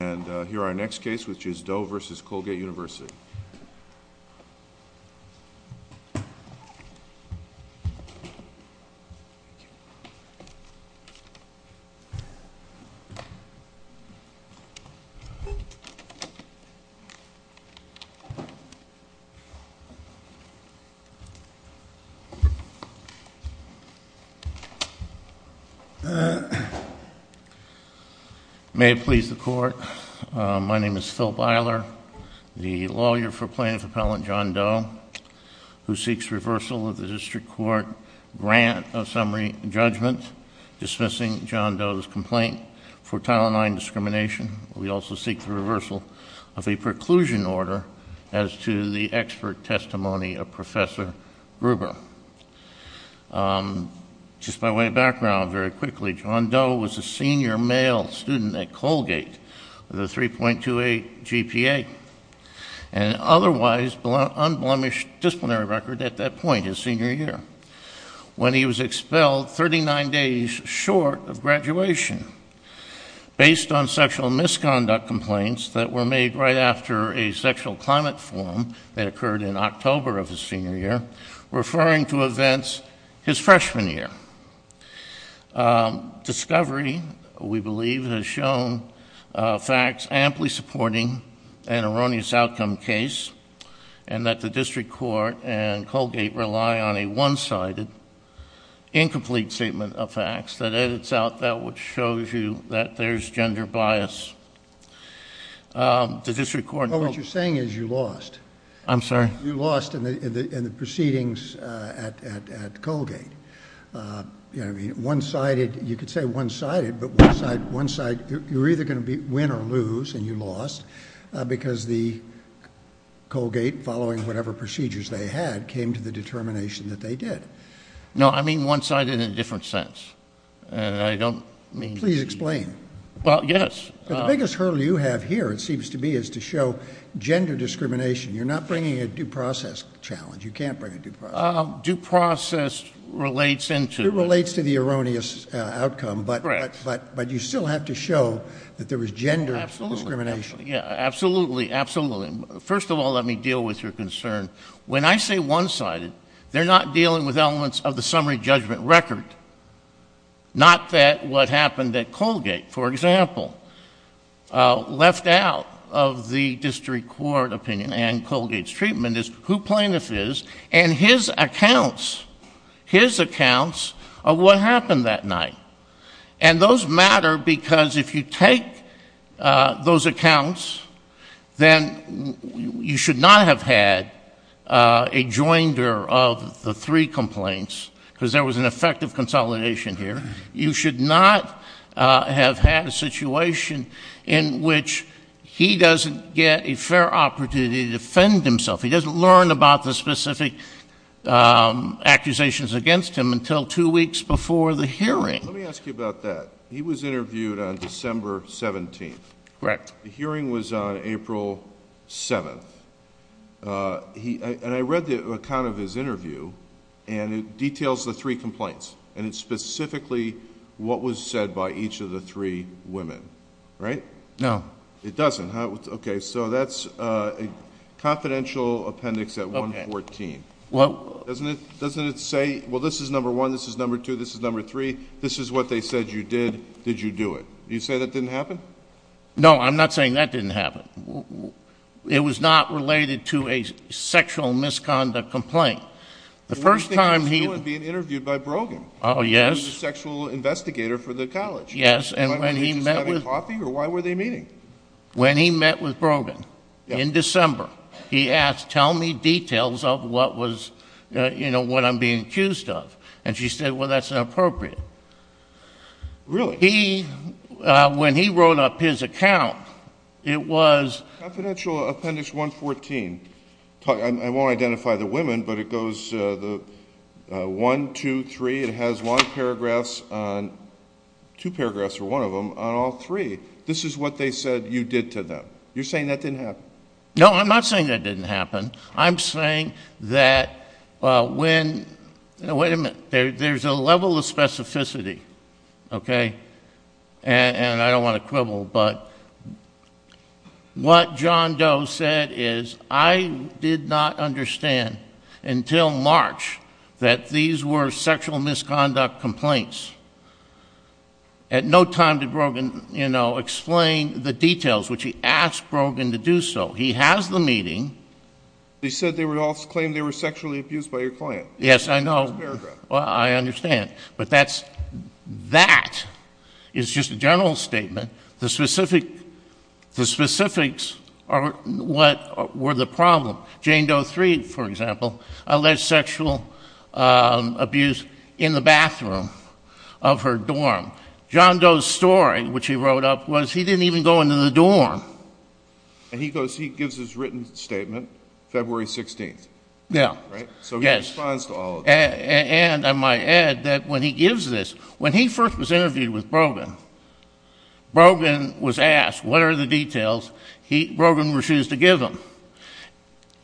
And here is our next case, which is Doe v. Colgate University. May it please the Court, my name is Phil Beiler. The lawyer for Plaintiff Appellant John Doe, who seeks reversal of the District Court grant of summary judgment dismissing John Doe's complaint for Title IX discrimination. We also seek the reversal of a preclusion order as to the expert testimony of Professor Gruber. Just by way of background, very quickly, John Doe was a senior male student at Colgate with a 3.28 GPA and otherwise unblemished disciplinary record at that point, his senior year, when he was expelled 39 days short of graduation based on sexual misconduct complaints that were made right after a sexual climate forum that occurred in October of his senior year referring to events his freshman year. Discovery, we believe, has shown facts amply supporting an erroneous outcome case and that the District Court and Colgate rely on a one-sided, incomplete statement of facts that edits out that which shows you that there's gender bias. The District Court... Well, what you're saying is you lost. I'm sorry? You lost in the proceedings at Colgate. One-sided, you could say one-sided, but one-sided, you're either going to win or lose and you lost because the Colgate, following whatever procedures they had, came to the determination that they did. No, I mean one-sided in a different sense. I don't mean... Please explain. Well, yes. The biggest hurdle you have here, it seems to be, is to show gender discrimination. You're not bringing a due process challenge. You can't bring a due process. Due process relates into... It relates to the erroneous outcome, but you still have to show that there was gender discrimination. Absolutely. Absolutely. Absolutely. First of all, let me deal with your concern. When I say one-sided, they're not dealing with elements of the summary judgment record, not that what happened at Colgate, for example, left out of the District Court opinion and Colgate's treatment is who plaintiff is and his accounts, his accounts of what happened that night. Those matter because if you take those accounts, then you should not have had a joinder of the three complaints because there was an effective consolidation here. You should not have had a situation in which he doesn't get a fair opportunity to defend himself. He doesn't learn about the specific accusations against him until two weeks before the hearing. Let me ask you about that. He was interviewed on December 17th. Correct. The hearing was on April 7th. I read the account of his interview and it details the three complaints and it's specifically what was said by each of the three women, right? No. It doesn't? Okay. So that's a confidential appendix at 114. Doesn't it say, well, this is number one, this is number two, this is number three, this is what they said you did, did you do it? Do you say that didn't happen? No, I'm not saying that didn't happen. It was not related to a sexual misconduct complaint. The first time he- What do you think he was doing being interviewed by Brogan, who was the sexual investigator for the college? Yes. And when he met with- Was he just having coffee or why were they meeting? When he met with Brogan in December, he asked, tell me details of what was, you know, what I'm being accused of. And she said, well, that's inappropriate. Really? So he, when he wrote up his account, it was- Confidential appendix 114, I won't identify the women, but it goes the one, two, three, it has one paragraph on, two paragraphs or one of them on all three. This is what they said you did to them. You're saying that didn't happen? No, I'm not saying that didn't happen. I'm saying that when, wait a minute, there's a level of specificity, okay? And I don't want to quibble, but what John Doe said is, I did not understand until March that these were sexual misconduct complaints. At no time did Brogan, you know, explain the details, which he asked Brogan to do so. He has the meeting. They said they would also claim they were sexually abused by your client. Yes, I know. In this paragraph. Well, I understand. But that's, that is just a general statement. The specific, the specifics are what were the problem. Jane Doe 3, for example, alleged sexual abuse in the bathroom of her dorm. John Doe's story, which he wrote up, was he didn't even go into the dorm. And he goes, he gives his written statement, February 16th. Yeah. Right? So he responds to all of this. Yes. And I might add that when he gives this, when he first was interviewed with Brogan, Brogan was asked what are the details Brogan refused to give him.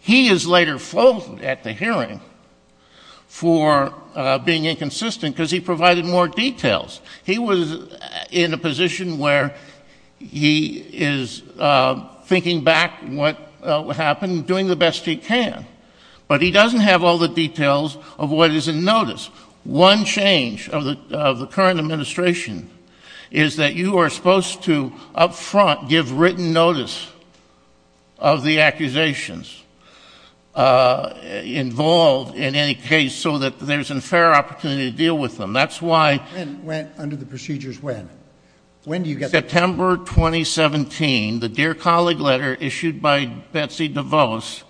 He is later faulted at the hearing for being inconsistent because he provided more details. He was in a position where he is thinking back what happened, doing the best he can. But he doesn't have all the details of what is in notice. One change of the current administration is that you are supposed to up front give written notice of the accusations involved in any case so that there's a fair opportunity to deal with them. That's why- When? Under the procedures when? When do you get- September 2017, the Dear Colleague letter issued by Betsy DeVos.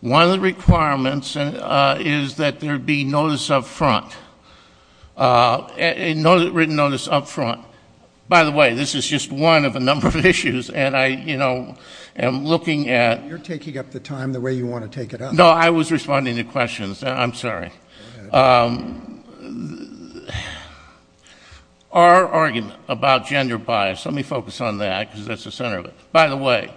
One of the requirements is that there be notice up front, written notice up front. By the way, this is just one of a number of issues and I am looking at- You're taking up the time the way you want to take it up. No, I was responding to questions. I'm sorry. Go ahead. Our argument about gender bias, let me focus on that because that's the center of it. By the way,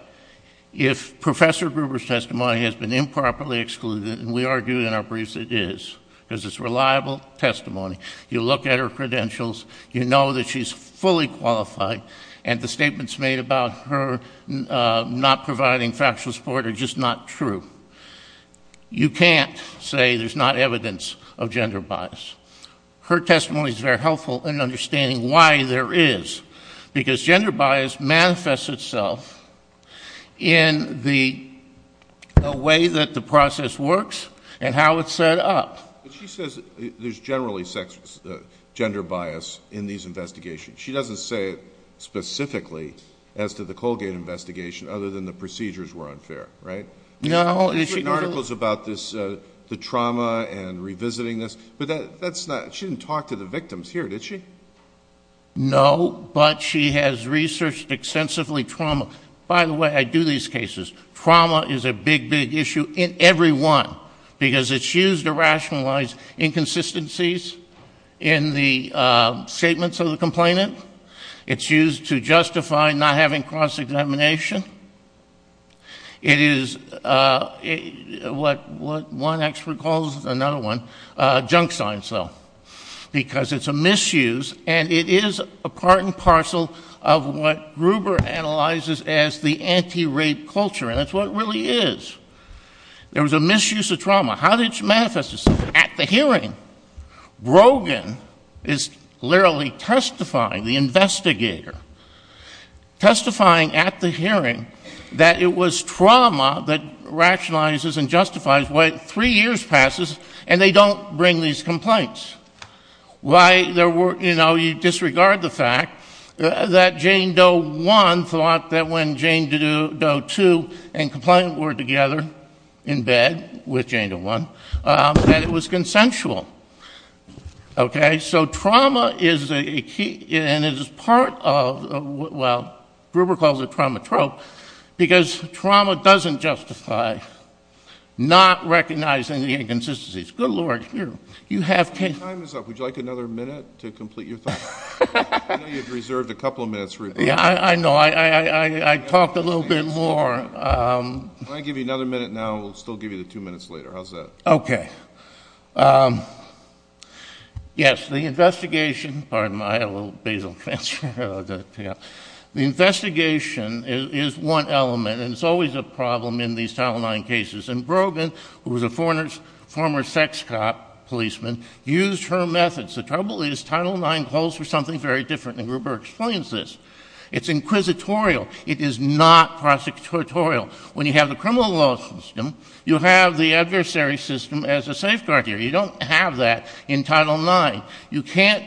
if Professor Gruber's testimony has been improperly excluded, and we argue in our briefs it is because it's reliable testimony. You look at her credentials. You know that she's fully qualified and the statements made about her not providing factual support are just not true. You can't say there's not evidence of gender bias. Her testimony is very helpful in understanding why there is because gender bias manifests itself in the way that the process works and how it's set up. But she says there's generally gender bias in these investigations. She doesn't say it specifically as to the Colgate investigation other than the procedures were unfair, right? No. She's written articles about this, the trauma and revisiting this, but she didn't talk to the victims here, did she? No, but she has researched extensively trauma. By the way, I do these cases. Trauma is a big, big issue in every one because it's used to rationalize inconsistencies in the statements of the complainant. It's used to justify not having cross-examination. It is what one expert calls another one, junk science though because it's a misuse and it is a part and parcel of what Gruber analyzes as the anti-rape culture and it's what it really is. There was a misuse of trauma. At the hearing. Brogan is literally testifying, the investigator, testifying at the hearing that it was trauma that rationalizes and justifies what three years passes and they don't bring these complaints. Why there were, you know, you disregard the fact that Jane Doe 1 thought that when Jane Doe 2 and complainant were together in bed with Jane Doe 1, that it was consensual. Okay? So trauma is a key and it is part of, well, Gruber calls it trauma trope because trauma doesn't justify not recognizing the inconsistencies. Good Lord, you have- Your time is up. Would you like another minute to complete your thought? I know you had reserved a couple of minutes, Gruber. Yeah, I know. I talked a little bit more. Can I give you another minute now? We'll still give you the two minutes later. How's that? Okay. Yes, the investigation, pardon me, I have a little basal cancer. The investigation is one element and it's always a problem in these Title IX cases and Brogan, who was a former sex cop policeman, used her methods. The trouble is Title IX calls for something very different and Gruber explains this. It's inquisitorial. It is not prosecutorial. When you have the criminal law system, you have the adversary system as a safeguard here. You don't have that in Title IX. You can't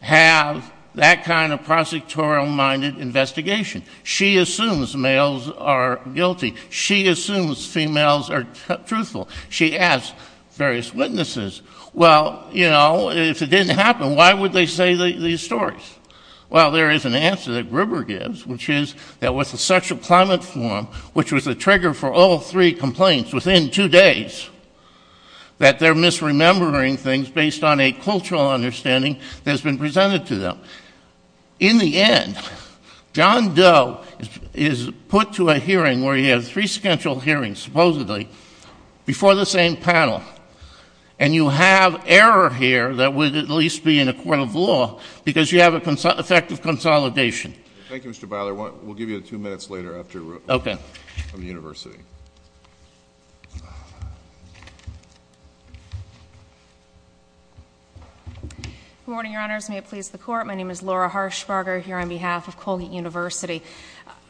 have that kind of prosecutorial-minded investigation. She assumes males are guilty. She assumes females are truthful. She asks various witnesses. Well, you know, if it didn't happen, why would they say these stories? Well, there is an answer that Gruber gives, which is there was a sexual climate forum, which was a trigger for all three complaints within two days, that they're misremembering things based on a cultural understanding that has been presented to them. In the end, John Doe is put to a hearing where he has three scheduled hearings, supposedly, before the same panel, and you have error here that would at least be in a court of law because you have effective consolidation. Thank you, Mr. Byler. We'll give you two minutes later after the University. Okay. Good morning, Your Honors. May it please the Court. My name is Laura Harshbarger here on behalf of Colgate University.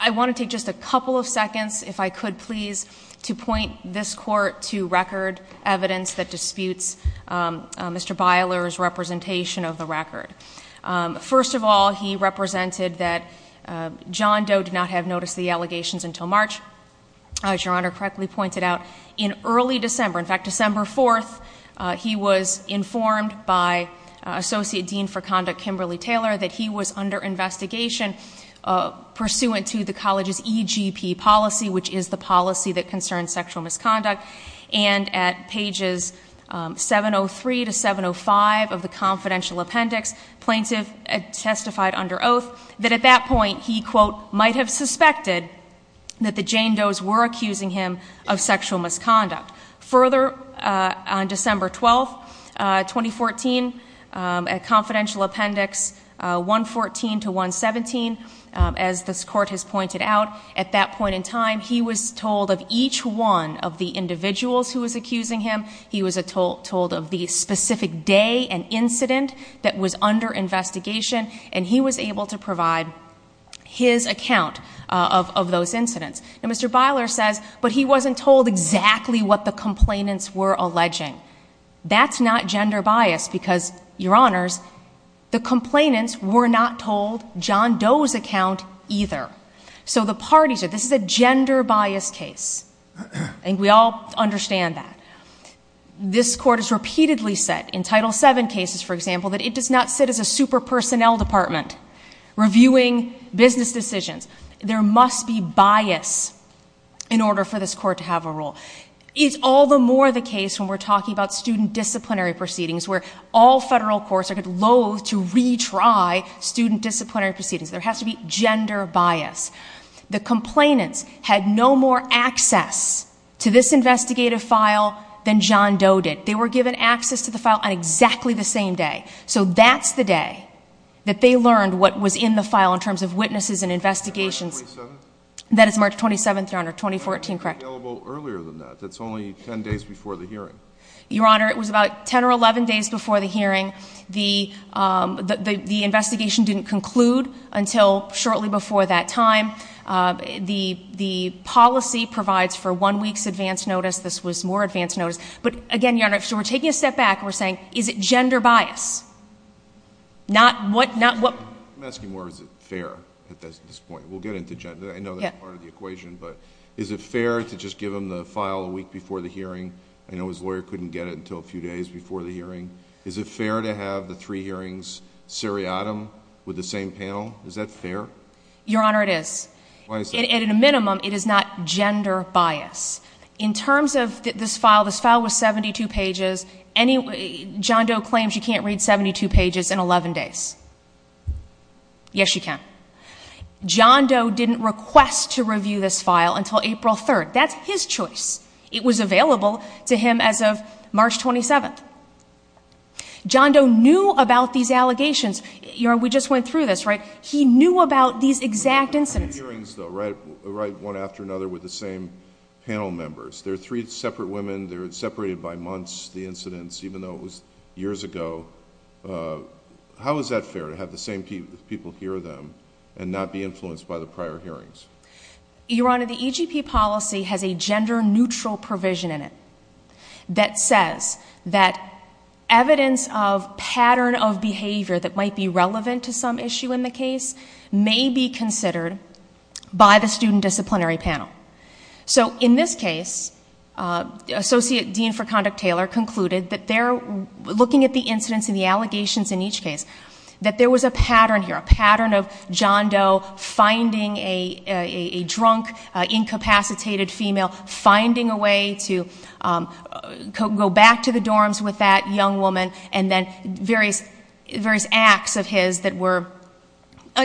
I want to take just a couple of seconds, if I could please, to point this Court to record evidence that disputes Mr. Byler's representation of the record. First of all, he represented that John Doe did not have notice of the allegations until March, as Your Honor correctly pointed out, in early December. In fact, December 4th, he was informed by Associate Dean for Conduct, Kimberly Taylor, that he was under investigation pursuant to the college's EGP policy, which is the policy that concerns sexual misconduct. And at pages 703 to 705 of the confidential appendix, plaintiff testified under oath that at that point he, quote, might have suspected that the Jane Does were accusing him of sexual misconduct. Further, on December 12th, 2014, at confidential appendix 114 to 117, as this Court has pointed out, at that point in time, he was told of each one of the individuals who was accusing him. He was told of the specific day and incident that was under investigation, and he was able to provide his account of those incidents. And Mr. Byler says, but he wasn't told exactly what the complainants were alleging. That's not gender bias because, Your Honors, the complainants were not told John Doe's account either. So the parties are, this is a gender bias case, and we all understand that. This Court has repeatedly said, in Title VII cases, for example, that it does not sit as a super-personnel department reviewing business decisions. There must be bias in order for this Court to have a rule. It's all the more the case when we're talking about student disciplinary proceedings, where all federal courts are loath to retry student disciplinary proceedings. There has to be gender bias. The complainants had no more access to this investigative file than John Doe did. They were given access to the file on exactly the same day. So that's the day that they learned what was in the file in terms of witnesses and investigations. That's March 27th? That is March 27th, Your Honor, 2014, correct. When was it available earlier than that? That's only 10 days before the hearing. Your Honor, it was about 10 or 11 days before the hearing. The investigation didn't conclude until shortly before that time. The policy provides for one week's advance notice. This was more advance notice. But, again, Your Honor, so we're taking a step back and we're saying is it gender bias? I'm asking more is it fair at this point. We'll get into gender. I know that's part of the equation. But is it fair to just give them the file a week before the hearing? I know his lawyer couldn't get it until a few days before the hearing. Is it fair to have the three hearings seriatim with the same panel? Is that fair? Your Honor, it is. At a minimum, it is not gender bias. In terms of this file, this file was 72 pages. John Doe claims you can't read 72 pages in 11 days. Yes, you can. John Doe didn't request to review this file until April 3rd. That's his choice. It was available to him as of March 27th. John Doe knew about these allegations. Your Honor, we just went through this, right? He knew about these exact incidents. The three hearings, though, right one after another with the same panel members. They're three separate women. They're separated by months, the incidents, even though it was years ago. How is that fair to have the same people hear them and not be influenced by the prior hearings? Your Honor, the EGP policy has a gender neutral provision in it that says that evidence of pattern of behavior that might be relevant to some issue in the case may be considered by the student disciplinary panel. So in this case, Associate Dean for Conduct Taylor concluded that they're looking at the incidents and the allegations in each case, that there was a pattern here, a pattern of John Doe finding a drunk, incapacitated female, finding a way to go back to the dorms with that young woman and then various acts of his that were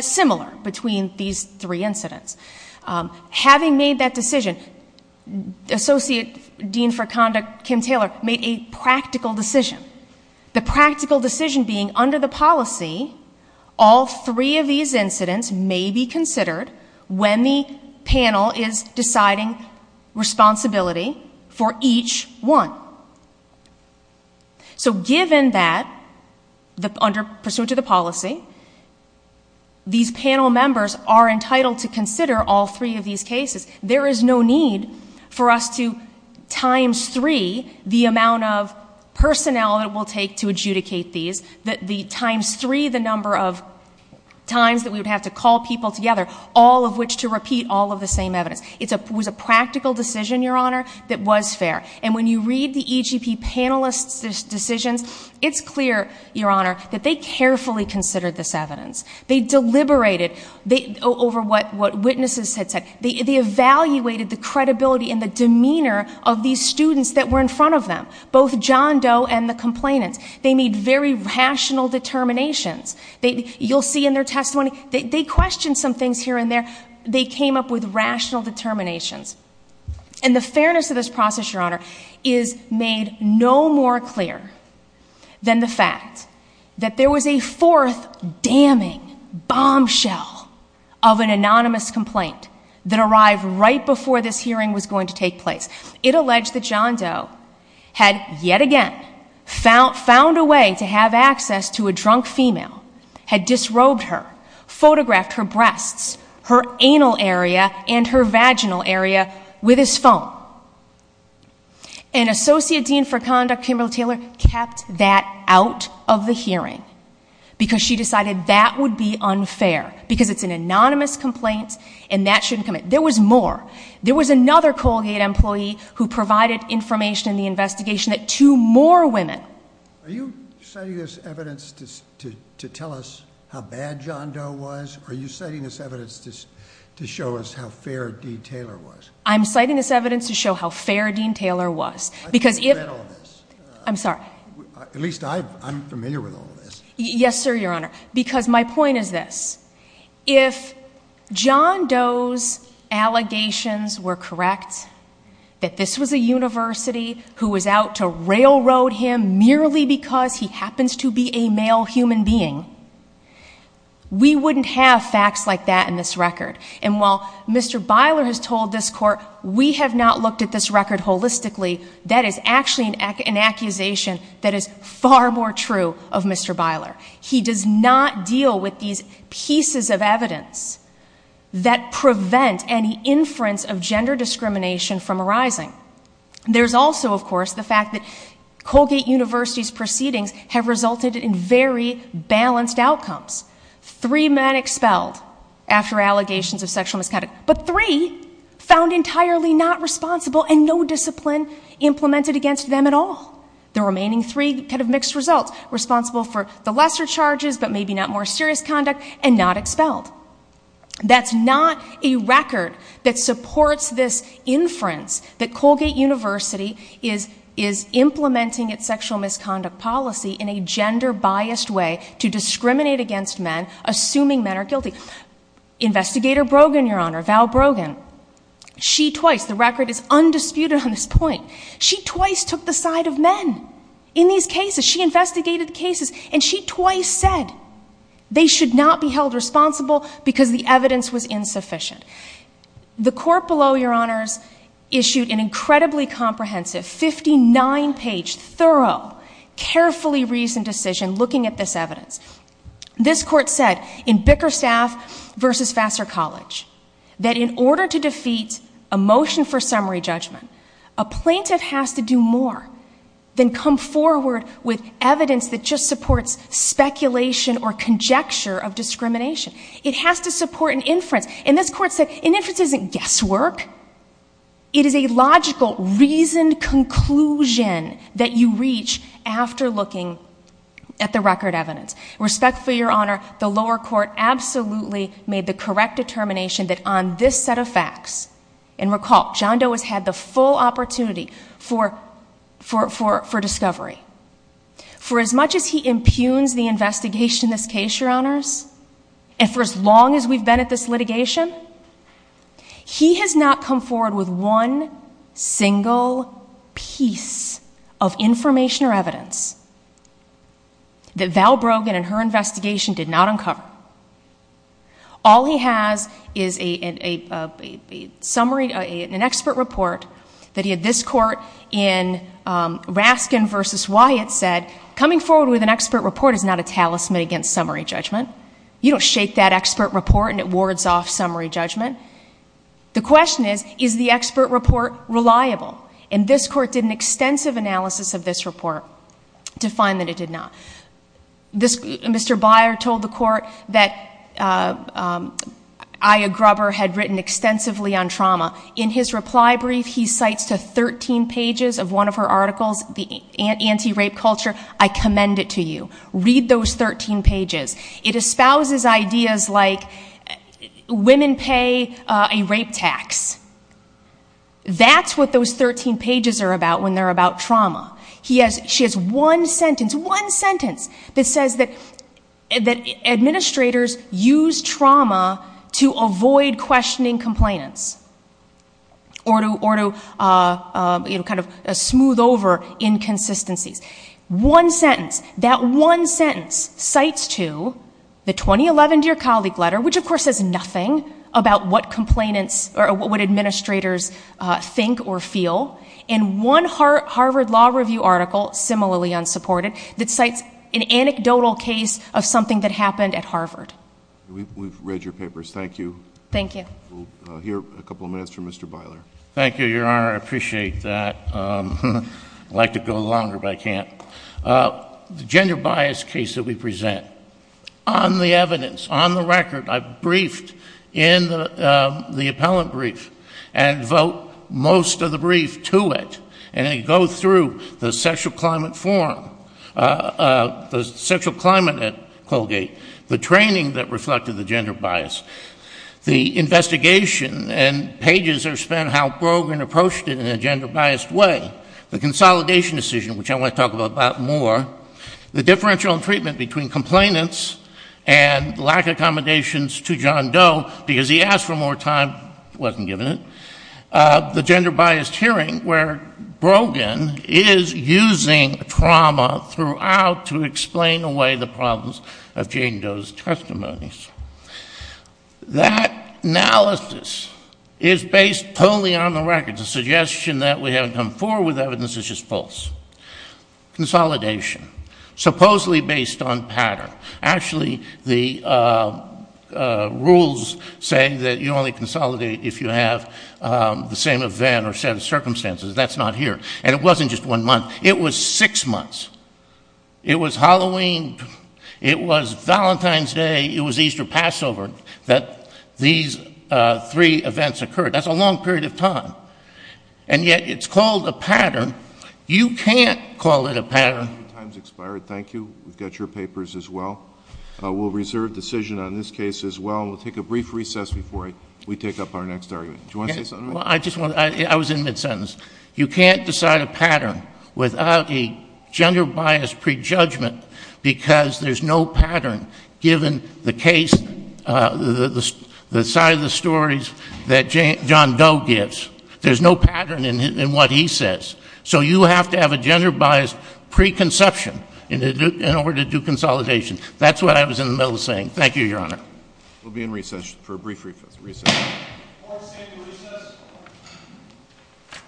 similar between these three incidents. Having made that decision, Associate Dean for Conduct Kim Taylor made a practical decision. The practical decision being, under the policy, all three of these incidents may be considered when the panel is deciding responsibility for each one. So given that, under pursuit of the policy, these panel members are entitled to consider all three of these cases, there is no need for us to times three the amount of personnel it will take to adjudicate these, times three the number of times that we would have to call people together, all of which to repeat all of the same evidence. It was a practical decision, Your Honor, that was fair. And when you read the EGP panelist's decisions, it's clear, Your Honor, that they carefully considered this evidence. They deliberated over what witnesses had said. They evaluated the credibility and the demeanor of these students that were in front of them, both John Doe and the complainants. They made very rational determinations. You'll see in their testimony, they questioned some things here and there. They came up with rational determinations. And the fairness of this process, Your Honor, is made no more clear than the fact that there was a fourth damning bombshell of an anonymous complaint that arrived right before this hearing was going to take place. It alleged that John Doe had, yet again, found a way to have access to a drunk female, had disrobed her, photographed her breasts, her anal area, and her vaginal area with his phone. And Associate Dean for Conduct, Kimberly Taylor, kept that out of the hearing because she decided that would be unfair because it's an anonymous complaint and that shouldn't come in. There was more. There was another Colgate employee who provided information in the investigation that two more women... Are you citing this evidence to tell us how bad John Doe was? Or are you citing this evidence to show us how fair Dean Taylor was? I'm citing this evidence to show how fair Dean Taylor was. I've read all this. I'm sorry. At least I'm familiar with all this. Yes, sir, Your Honor. Because my point is this. If John Doe's allegations were correct, that this was a university who was out to railroad him merely because he happens to be a male human being, we wouldn't have facts like that in this record. And while Mr. Byler has told this court, we have not looked at this record holistically, that is actually an accusation that is far more true of Mr. Byler. He does not deal with these pieces of evidence that prevent any inference of gender discrimination from arising. There's also, of course, the fact that Colgate University's proceedings have resulted in very balanced outcomes. Three men expelled after allegations of sexual misconduct, but three found entirely not responsible and no discipline implemented against them at all. The remaining three could have mixed results. Responsible for the lesser charges, but maybe not more serious conduct, and not expelled. That's not a record that supports this inference that Colgate University is implementing its sexual misconduct policy in a gender-biased way to discriminate against men, assuming men are guilty. Investigator Brogan, Your Honor, Val Brogan, she twice, the record is undisputed on this point, she twice took the side of men in these cases. She investigated the cases, and she twice said they should not be held responsible because the evidence was insufficient. The court below, Your Honors, issued an incredibly comprehensive 59-page, thorough, carefully-reasoned decision looking at this evidence. This court said in Bickerstaff v. Vassar College that in order to defeat a motion for summary judgment, a plaintiff has to do more than come forward with evidence that just supports speculation or conjecture of discrimination. It has to support an inference. And this court said an inference isn't guesswork. It is a logical, reasoned conclusion that you reach after looking at the record evidence. Respectfully, Your Honor, the lower court absolutely made the correct determination that on this set of facts, and recall, John Doe has had the full opportunity for discovery. For as much as he impugns the investigation in this case, Your Honors, and for as long as we've been at this litigation, he has not come forward with one single piece of information or evidence that Val Brogan and her investigation did not uncover. All he has is an expert report that he had this court in Raskin v. Wyatt said, coming forward with an expert report is not a talisman against summary judgment. You don't shake that expert report and it wards off summary judgment. The question is, is the expert report reliable? And this court did an extensive analysis of this report to find that it did not. Mr. Byer told the court that Aya Grubber had written extensively on trauma. In his reply brief, he cites to 13 pages of one of her articles, the anti-rape culture. I commend it to you. Read those 13 pages. It espouses ideas like women pay a rape tax. That's what those 13 pages are about when they're about trauma. She has one sentence, one sentence that says that administrators use trauma to avoid questioning complainants or to kind of smooth over inconsistencies. One sentence, that one sentence cites to the 2011 Dear Colleague letter, which of course says nothing about what complainants or what administrators think or feel, and one Harvard Law Review article, similarly unsupported, that cites an anecdotal case of something that happened at Harvard. We've read your papers. Thank you. Thank you. We'll hear a couple of minutes from Mr. Byler. Thank you, Your Honor. I appreciate that. I'd like to go longer, but I can't. The gender bias case that we present, on the evidence, on the record, I've briefed in the appellant brief and devote most of the brief to it, and I go through the sexual climate forum, the sexual climate at Colgate, the training that reflected the gender bias, the investigation, and pages are spent how Brogan approached it in a gender-biased way, the consolidation decision, which I want to talk about more, the differential in treatment between complainants and lack of accommodations to John Doe because he asked for more time, wasn't given it, the gender-biased hearing where Brogan is using trauma throughout to explain away the problems of Jane Doe's testimonies. That analysis is based totally on the record. The suggestion that we haven't come forward with evidence is just false. Consolidation, supposedly based on pattern. Actually, the rules say that you only consolidate if you have the same event or set of circumstances. That's not here. And it wasn't just one month. It was six months. It was Halloween. It was Valentine's Day. It was Easter, Passover that these three events occurred. That's a long period of time. And yet it's called a pattern. You can't call it a pattern. Your time has expired. Thank you. We've got your papers as well. We'll reserve decision on this case as well. We'll take a brief recess before we take up our next argument. Do you want to say something? I was in mid-sentence. You can't decide a pattern without a gender-biased prejudgment because there's no pattern given the case, the side of the stories that John Doe gives. There's no pattern in what he says. So you have to have a gender-biased preconception in order to do consolidation. That's what I was in the middle of saying. Thank you, Your Honor. We'll be in recess for a brief recess. Court is in recess.